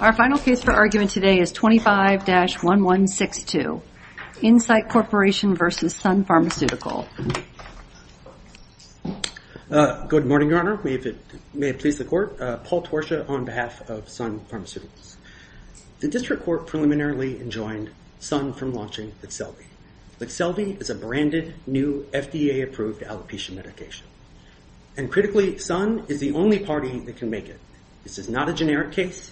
Our final case for argument today is 25-1162, Incyte Corporation v. Sun Pharmaceutical. Good morning, Your Honor. May it please the Court. Paul Torsha on behalf of Sun Pharmaceuticals. The District Court preliminarily enjoined Sun from launching Lexelvi. Lexelvi is a branded, new, FDA-approved alopecia medication. And critically, Sun is the only party that can make it. This is not a generic case.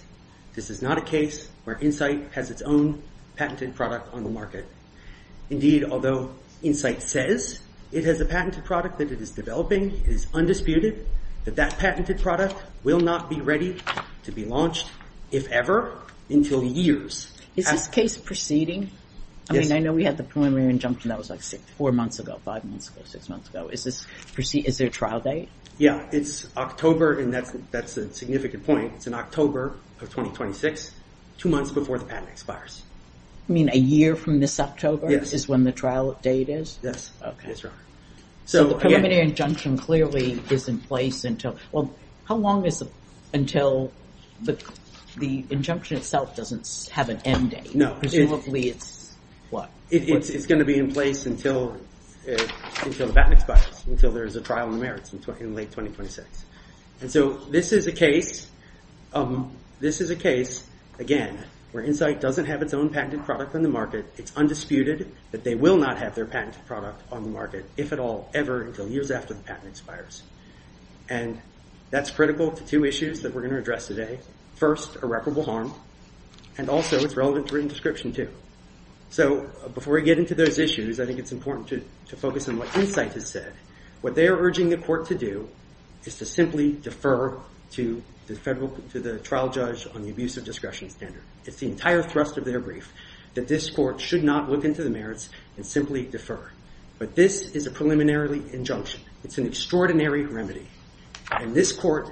This is not a case where Incyte has its own patented product on the market. Indeed, although Incyte says it has a patented product that it is developing, it is undisputed that that patented product will not be ready to be launched, if ever, until years. Is this case proceeding? Yes. I mean, I know we had the preliminary injunction that was like four months ago, five months ago, six months ago. Is there a trial date? Yeah, it's October, and that's a significant point. It's in October of 2026, two months before the patent expires. You mean a year from this October is when the trial date is? Yes. Yes, Your Honor. So the preliminary injunction clearly is in place until... Well, how long is until the injunction itself doesn't have an end date? Presumably it's... what? It's going to be in place until the patent expires, until there's a trial in the merits in late 2026. And so this is a case, again, where Incyte doesn't have its own patented product on the market. It's undisputed that they will not have their patented product on the market, if at all, ever, until years after the patent expires. And that's critical to two issues that we're going to address today. First, irreparable harm, and also it's relevant to written description, too. So before we get into those issues, I think it's important to focus on what Incyte has said. What they are urging the court to do is to simply defer to the trial judge on the abusive discretion standard. It's the entire thrust of their brief that this court should not look into the merits and simply defer. But this is a preliminary injunction. It's an extraordinary remedy. And this court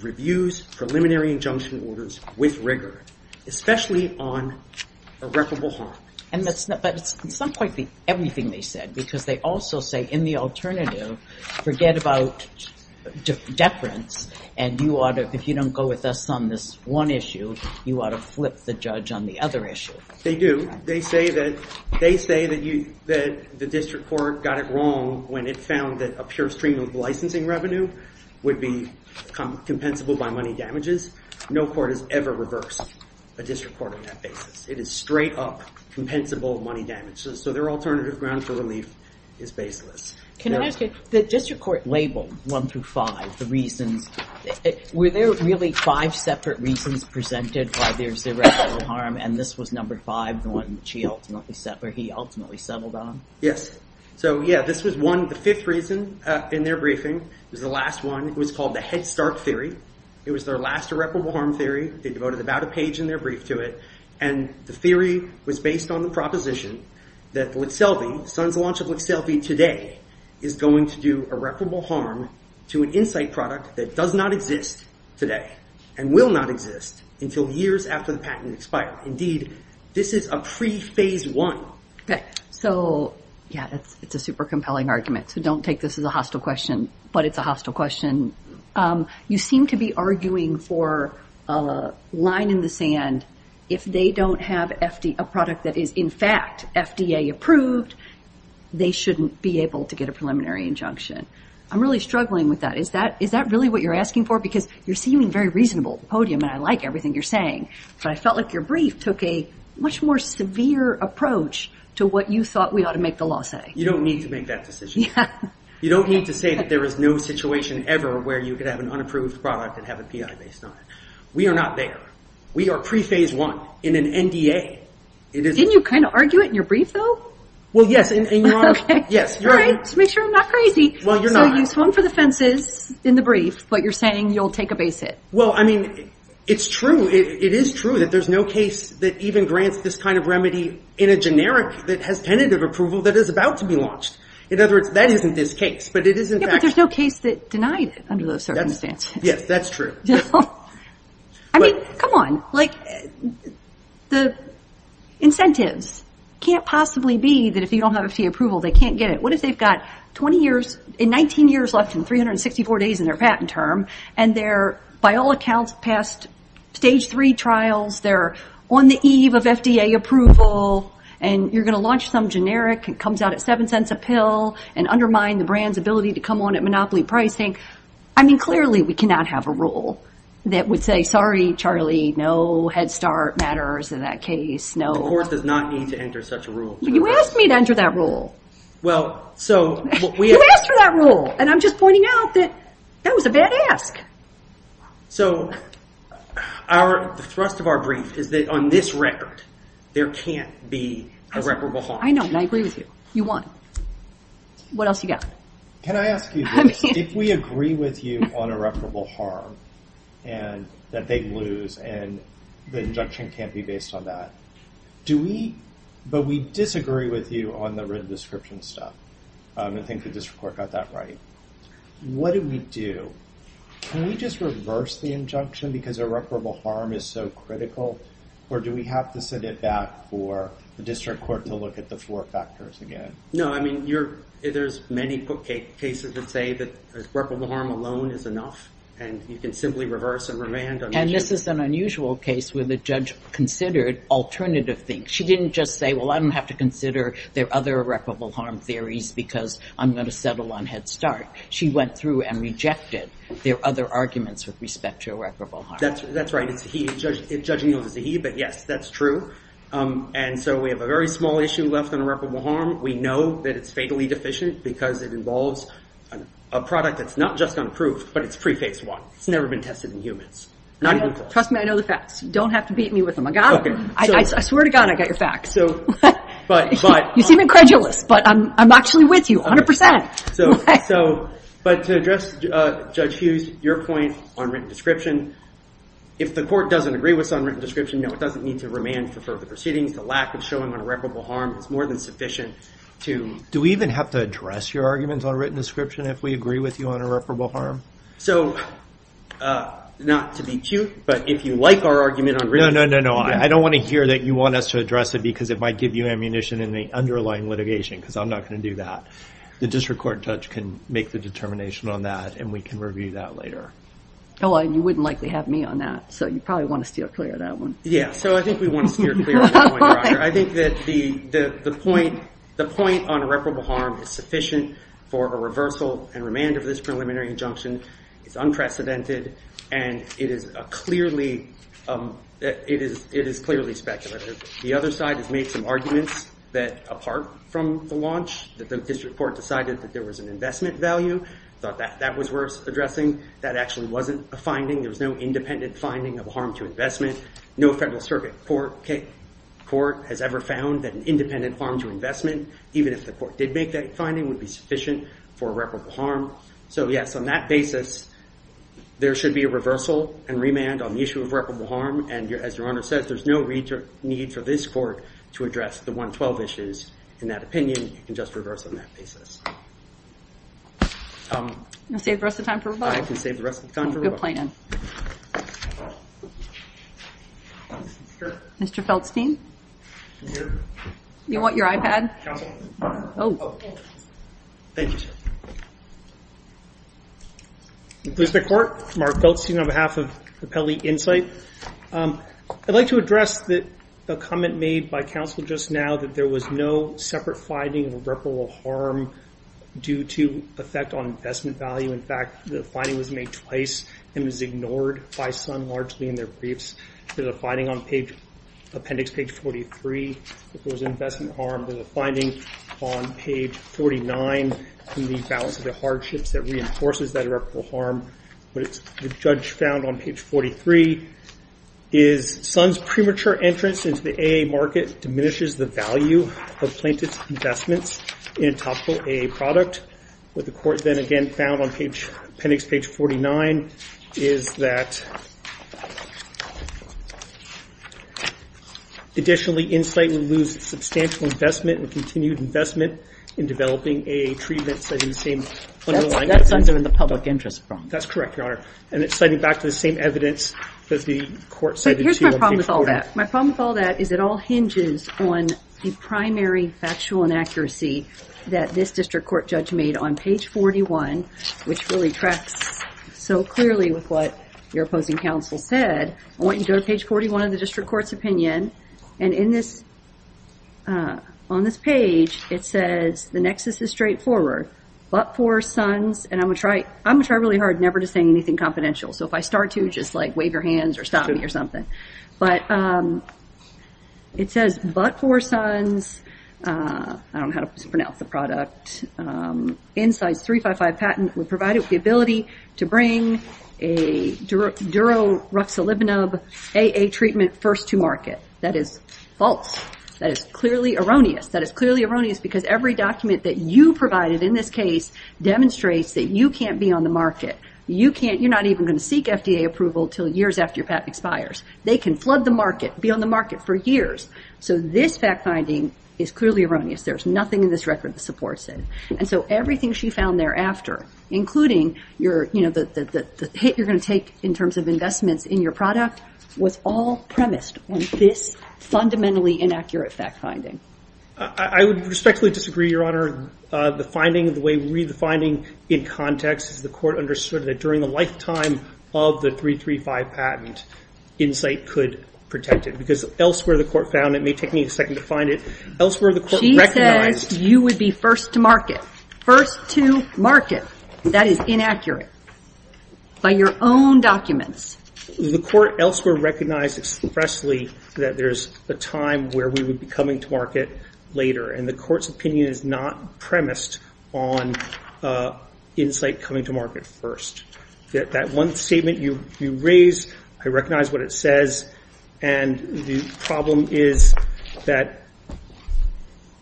reviews preliminary injunction orders with rigor, especially on irreparable harm. But it's not quite everything they said, because they also say in the alternative, forget about deference, and if you don't go with us on this one issue, you ought to flip the judge on the other issue. They do. They say that the district court got it wrong when it found that a pure stream of licensing revenue would be compensable by money damages. No court has ever reversed a district court on that basis. It is straight up compensable money damages. So their alternative ground for relief is baseless. Can I ask you, the district court labeled one through five, the reasons. Were there really five separate reasons presented why there's irreparable harm, and this was number five, the one that he ultimately settled on? Yes. So yeah, this was one, the fifth reason in their briefing was the last one. It was called the Head Start Theory. It was their last irreparable harm theory. They devoted about a page in their brief to it. And the theory was based on the proposition that Lixelvi, Sun's launch of Lixelvi today is going to do irreparable harm to an Insight product that does not exist today and will not exist until years after the patent expires. Indeed, this is a pre-phase one. So yeah, it's a super compelling argument. So don't take this as a hostile question, but it's a hostile question. You seem to be arguing for a line in the sand. If they don't have a product that is in fact FDA approved, they shouldn't be able to get a preliminary injunction. I'm really struggling with that. Is that really what you're asking for? Because you're seeming very reasonable at the podium, and I like everything you're saying, but I felt like your brief took a much more severe approach to what you thought we ought to make the law say. You don't need to make that decision. You don't need to say that there is no situation ever where you could have an unapproved product and have a PI based on it. We are not there. We are pre-phase one in an NDA. Didn't you kind of argue it in your brief, though? Well, yes, and you are. Yes. All right, to make sure I'm not crazy. Well, you're not. So you swung for the fences in the brief, but you're saying you'll take a base hit. Well, I mean, it's true. It is true that there's no case that even grants this kind of remedy in a generic that has tentative approval that is about to be launched. In other words, that isn't this case, but it is in fact. Yeah, but there's no case that denied it under those circumstances. Yes, that's true. I mean, come on. Like, the incentives can't possibly be that if you don't have FDA approval, they can't get it. What if they've got 20 years, 19 years left and 364 days in their patent term, and they're, by all accounts, past stage three trials. They're on the eve of FDA approval, and you're going to launch some generic. It comes out at seven cents a pill and undermine the brand's ability to come on at monopoly pricing. I mean, clearly, we cannot have a rule that would say, sorry, Charlie, no Head Start matters in that case. The court does not need to enter such a rule. You asked me to enter that rule. You asked for that rule, and I'm just pointing out that that was a bad ask. So the thrust of our brief is that on this record, there can't be a reparable harm. I know, and I agree with you. You won. What else you got? Can I ask you this? If we agree with you on irreparable harm that they lose and the injunction can't be based on that, but we disagree with you on the written description stuff and think the district court got that right, what do we do? Can we just reverse the injunction because irreparable harm is so critical, or do we have to send it back for the district court to look at the four factors again? No, I mean, there's many cases that say that irreparable harm alone is enough, and you can simply reverse and revand. And this is an unusual case where the judge considered alternative things. She didn't just say, well, I don't have to consider their other irreparable harm theories because I'm going to settle on Head Start. She went through and rejected their other arguments with respect to irreparable harm. That's right. Judging those is a he, but, yes, that's true. And so we have a very small issue left on irreparable harm. We know that it's fatally deficient because it involves a product that's not just unproved, but it's pre-Phase I. It's never been tested in humans. Not even close. Trust me, I know the facts. You don't have to beat me with them. I got them. I swear to God I got your facts. You seem incredulous, but I'm actually with you 100%. But to address Judge Hughes, your point on written description, if the court doesn't agree with some written description, no, it doesn't need to remand for further proceedings. The lack of showing irreparable harm is more than sufficient to... Do we even have to address your arguments on written description if we agree with you on irreparable harm? So, not to be cute, but if you like our argument on written description... No, no, no, no. I don't want to hear that you want us to address it because it might give you ammunition in the underlying litigation because I'm not going to do that. The district court judge can make the determination on that, and we can review that later. Oh, and you wouldn't likely have me on that, so you probably want to steer clear of that one. Yeah, so I think we want to steer clear of that point, Roger. I think that the point on irreparable harm is sufficient for a reversal and remand of this preliminary injunction. It's unprecedented, and it is clearly speculative. The other side has made some arguments that, apart from the launch, that the district court decided that there was an investment value, thought that that was worth addressing. That actually wasn't a finding. There was no independent finding of harm to investment. No federal circuit court has ever found that an independent harm to investment, even if the court did make that finding, would be sufficient for irreparable harm. So, yes, on that basis, there should be a reversal and remand on the issue of irreparable harm, and as Your Honor says, there's no need for this court to address the 112 issues. In that opinion, you can just reverse on that basis. You can save the rest of the time for rebuttal. I can save the rest of the time for rebuttal. Mr. Feldstein? I'm here. You want your iPad? Oh. Thank you, sir. District Court, Mark Feldstein on behalf of Capelli Insight. I'd like to address a comment made by counsel just now, that there was no separate finding of irreparable harm due to effect on investment value. In fact, the finding was made twice and was ignored by Sun largely in their briefs. There's a finding on appendix page 43 that there was investment harm. There's a finding on page 49 in the balance of the hardships that reinforces that irreparable harm. What the judge found on page 43 is Sun's premature entrance into the AA market diminishes the value of plaintiff's investments in a topical AA product. What the court then again found on appendix page 49 is that additionally Insight would lose substantial investment and continued investment in developing a treatment setting the same underlying evidence. That's Sun's in the public interest. That's correct, Your Honor. And it's citing back to the same evidence that the court cited to you on page 44. Here's my problem with all that. My problem with all that is it all hinges on the primary factual inaccuracy that this district court judge made on page 41, which really tracks so clearly with what your opposing counsel said. I want you to go to page 41 of the district court's opinion. And on this page, it says the nexus is straightforward. But for Sun's, and I'm going to try really hard never to say anything confidential. So if I start to, just like wave your hands or stop me or something. But it says, but for Sun's, I don't know how to pronounce the product, Insight's 355 patent would provide the ability to bring a duro-ruxolibanab AA treatment first to market. That is false. That is clearly erroneous. That is clearly erroneous because every document that you provided in this case demonstrates that you can't be on the market. You're not even going to seek FDA approval until years after your patent expires. They can flood the market, be on the market for years. So this fact finding is clearly erroneous. There's nothing in this record that supports it. And so everything she found thereafter, including the hit you're going to take in terms of investments in your product, was all premised on this fundamentally inaccurate fact finding. I would respectfully disagree, Your Honor. The finding, the way we read the finding in context, is the court understood that during the lifetime of the 335 patent, Insight could protect it. Because elsewhere the court found it, it may take me a second to find it, elsewhere the court recognized- She says you would be first to market. First to market. That is inaccurate. By your own documents. The court elsewhere recognized expressly that there's a time where we would be coming to market later. And the court's opinion is not premised on Insight coming to market first. That one statement you raised, I recognize what it says. And the problem is that,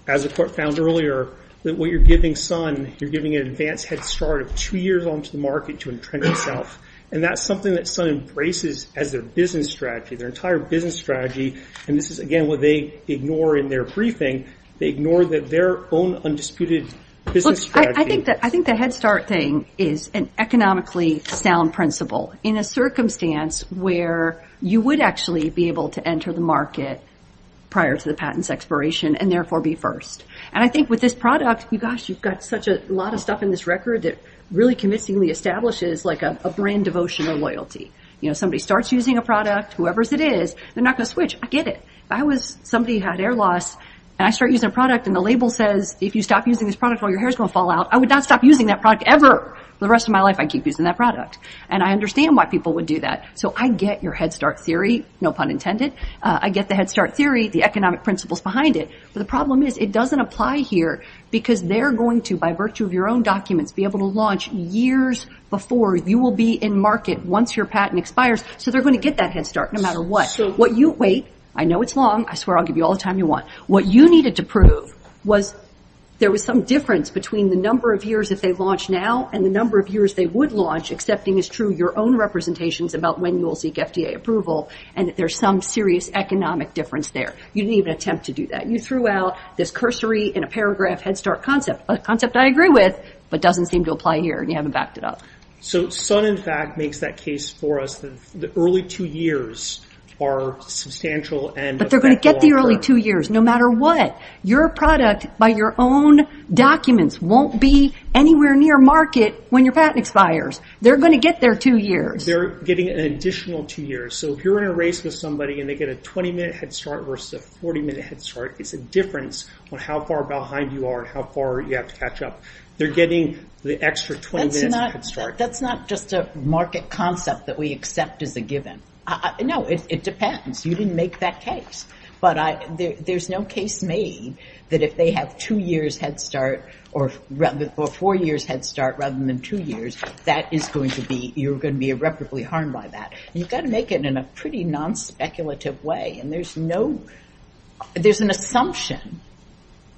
as the court found earlier, that what you're giving Sun, you're giving an advance head start of two years onto the market to entrench itself. And that's something that Sun embraces as their business strategy, their entire business strategy. And this is, again, what they ignore in their briefing. They ignore their own undisputed business strategy. I think the head start thing is an economically sound principle. In a circumstance where you would actually be able to enter the market prior to the patent's expiration and therefore be first. And I think with this product, you've got such a lot of stuff in this record that really convincingly establishes a brand devotion or loyalty. Somebody starts using a product, whoever it is, they're not going to switch. I get it. I was somebody who had air loss, and I start using a product, and the label says, if you stop using this product, all your hair's going to fall out. I would not stop using that product ever. For the rest of my life, I'd keep using that product. And I understand why people would do that. So I get your head start theory, no pun intended. I get the head start theory, the economic principles behind it. But the problem is it doesn't apply here because they're going to, by virtue of your own documents, be able to launch years before you will be in market once your patent expires. So they're going to get that head start no matter what. Wait, I know it's long. I swear I'll give you all the time you want. What you needed to prove was there was some difference between the number of years that they launch now and the number of years they would launch, accepting as true your own representations about when you will seek FDA approval and that there's some serious economic difference there. You didn't even attempt to do that. You threw out this cursory, in a paragraph, head start concept, a concept I agree with, but doesn't seem to apply here, and you haven't backed it up. So Sun, in fact, makes that case for us that the early two years are substantial and affect the long term. But they're going to get the early two years no matter what. Your product, by your own documents, won't be anywhere near market when your patent expires. They're going to get their two years. They're getting an additional two years. So if you're in a race with somebody and they get a 20-minute head start versus a 40-minute head start, it's a difference on how far behind you are and how far you have to catch up. They're getting the extra 20 minutes of head start. That's not just a market concept that we accept as a given. No, it depends. You didn't make that case. But there's no case made that if they have two years head start or four years head start rather than two years, you're going to be irreparably harmed by that. You've got to make it in a pretty non-speculative way. There's an assumption,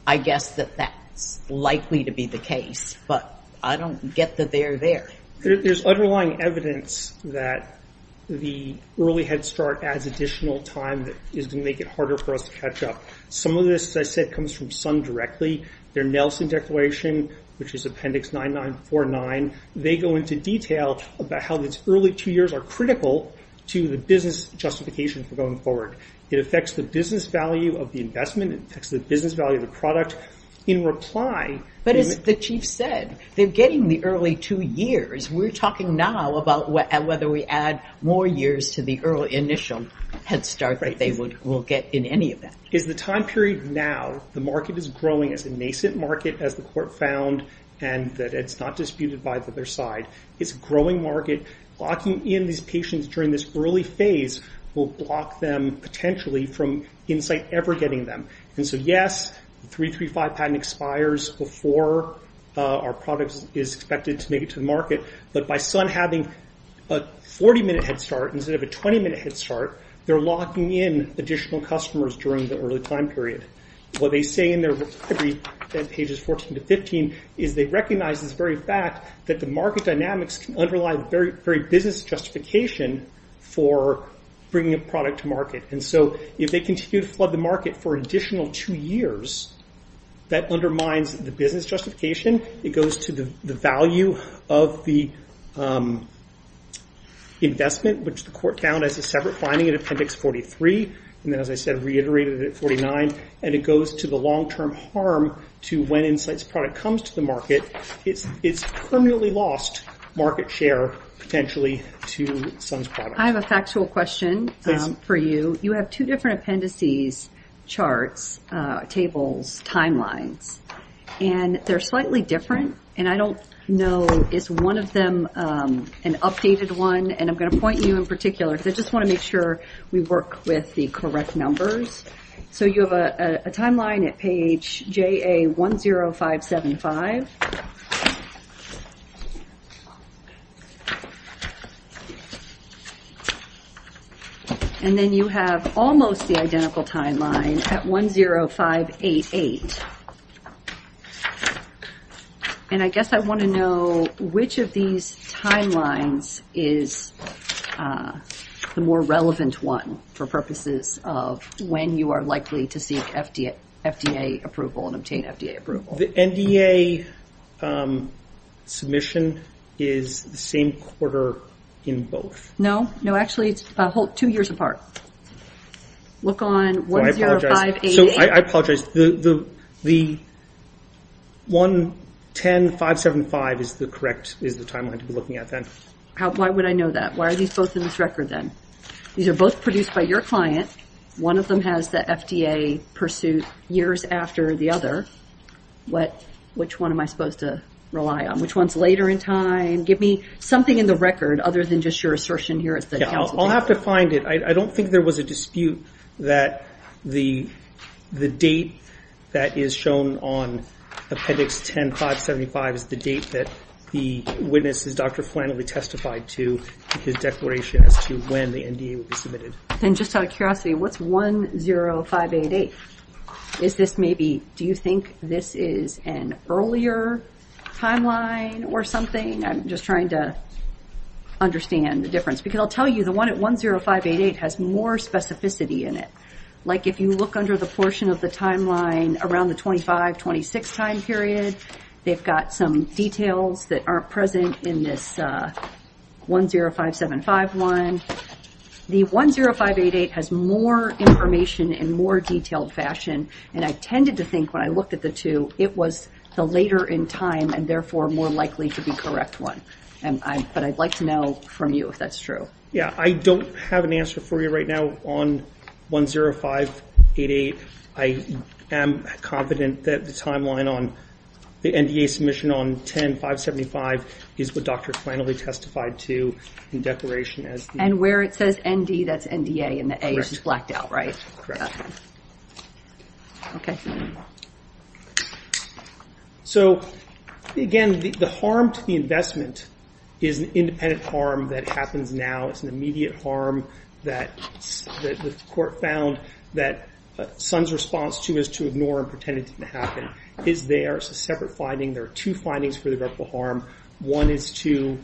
I guess, that that's likely to be the case. But I don't get that they're there. There's underlying evidence that the early head start adds additional time that is going to make it harder for us to catch up. Some of this, as I said, comes from Sun Directly. Their Nelson Declaration, which is Appendix 9949, they go into detail about how these early two years are critical to the business justification for going forward. It affects the business value of the investment. It affects the business value of the product. In reply— But as the Chief said, they're getting the early two years. We're talking now about whether we add more years to the initial head start that they will get in any event. It's the time period now. The market is growing. It's a nascent market, as the Court found, and it's not disputed by the other side. It's a growing market. Locking in these patients during this early phase will block them, potentially, from Insight ever getting them. And so, yes, the 335 patent expires before our product is expected to make it to the market. But by Sun having a 40-minute head start instead of a 20-minute head start, they're locking in additional customers during the early time period. What they say in their recovery at pages 14 to 15 is they recognize this very fact that the market dynamics can underlie the very business justification for bringing a product to market. And so if they continue to flood the market for an additional two years, that undermines the business justification. It goes to the value of the investment, which the Court found as a separate finding in Appendix 43, and then, as I said, reiterated it at 49, and it goes to the long-term harm to when Insight's product comes to the market. It's permanently lost market share, potentially, to Sun's product. I have a factual question for you. You have two different appendices, charts, tables, timelines, and they're slightly different, and I don't know, is one of them an updated one? And I'm going to point you in particular, because I just want to make sure we work with the correct numbers. So you have a timeline at page JA10575. And then you have almost the identical timeline at 10588. And I guess I want to know which of these timelines is the more relevant one for purposes of when you are likely to seek FDA approval and obtain FDA approval. The NDA submission is the same quarter in both. No. No, actually, it's two years apart. Look on 10588. I apologize. The 110575 is the correct timeline to be looking at, then. Why would I know that? Why are these both in this record, then? These are both produced by your client. One of them has the FDA pursuit years after the other. Which one am I supposed to rely on? Which one is later in time? Give me something in the record other than just your assertion here. I'll have to find it. I don't think there was a dispute that the date that is shown on appendix 10575 is the date that the witness, Dr. Flannelly, testified to his declaration as to when the NDA would be submitted. And just out of curiosity, what's 10588? Do you think this is an earlier timeline or something? I'm just trying to understand the difference. Because I'll tell you, the one at 10588 has more specificity in it. Like if you look under the portion of the timeline around the 25-26 time period, they've got some details that aren't present in this 10575 one. The 10588 has more information in more detailed fashion, and I tended to think when I looked at the two it was the later in time and therefore more likely to be correct one. But I'd like to know from you if that's true. Yeah, I don't have an answer for you right now on 10588. I am confident that the timeline on the NDA submission on 10575 is what Dr. Flannelly testified to in declaration. And where it says ND, that's NDA, and the A is blacked out, right? So, again, the harm to the investment is an independent harm that happens now. It's an immediate harm that the court found that Sun's response to is to ignore and pretend it didn't happen. It's there. It's a separate finding. There are two findings for the reputable harm. One is to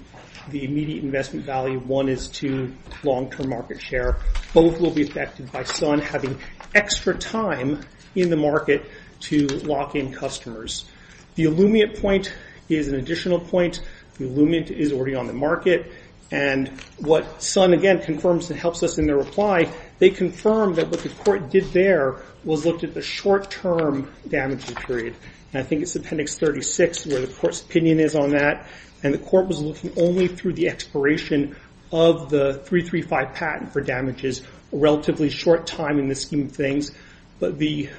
the immediate investment value. One is to long-term market share. Both will be affected by Sun having extra time in the market to lock in customers. The illuminate point is an additional point. The illuminate is already on the market. And what Sun, again, confirms and helps us in their reply, they confirm that what the court did there was look at the short-term damaging period. And I think it's Appendix 36 where the court's opinion is on that. And the court was looking only through the expiration of the 335 patent for damages, a relatively short time in the scheme of things. But the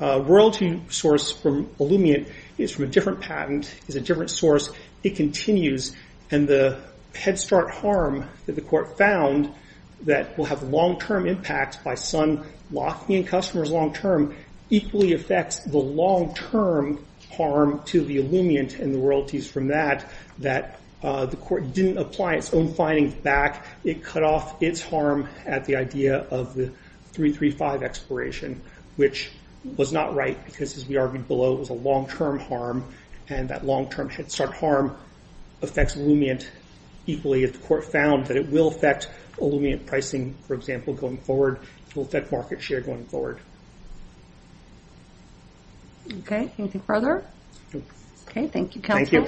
royalty source from illuminate is from a different patent, is a different source. It continues. And the head-start harm that the court found that will have long-term impact by Sun locking in customers long-term equally affects the long-term harm to the illuminate and the royalties from that, that the court didn't apply its own findings back. It cut off its harm at the idea of the 335 expiration, which was not right because, as we argued below, it was a long-term harm. And that long-term head-start harm affects illuminate equally. If the court found that it will affect illuminate pricing, for example, going forward, it will affect market share going forward. Okay. Anything further? No. Okay. Thank you, counsel.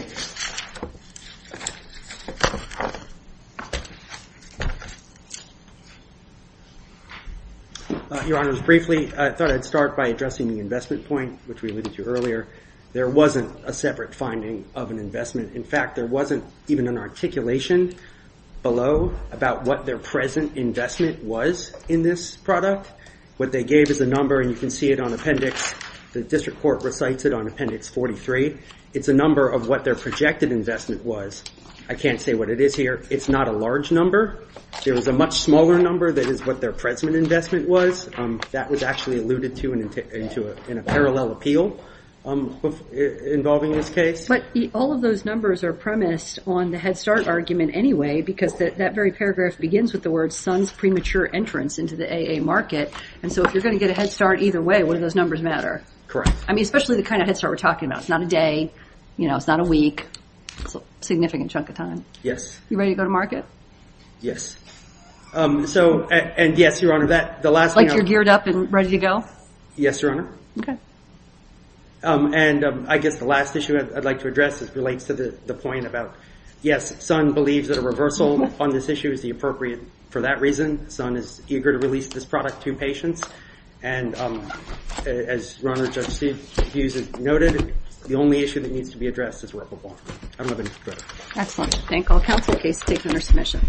Your Honors, briefly, I thought I'd start by addressing the investment point, which we alluded to earlier. There wasn't a separate finding of an investment. In fact, there wasn't even an articulation below about what their present investment was in this product. What they gave is a number, and you can see it on appendix. The district court recites it on appendix 43. It's a number of what their projected investment was. I can't say what it is here. It's not a large number. There is a much smaller number that is what their present investment was. That was actually alluded to in a parallel appeal. Involving this case. But all of those numbers are premised on the head-start argument anyway because that very paragraph begins with the words, son's premature entrance into the AA market. And so if you're going to get a head-start either way, what do those numbers matter? Correct. I mean, especially the kind of head-start we're talking about. It's not a day. You know, it's not a week. It's a significant chunk of time. Yes. You ready to go to market? Yes. So, and yes, Your Honor. Like you're geared up and ready to go? Yes, Your Honor. Okay. And I guess the last issue I'd like to address relates to the point about, yes, Sun believes that a reversal on this issue is the appropriate. For that reason, Sun is eager to release this product to patients. And as Ron or Judge Hughes has noted, the only issue that needs to be addressed is where it will go. I don't have anything further. Excellent. Thank all counsel. The case is taken under submission.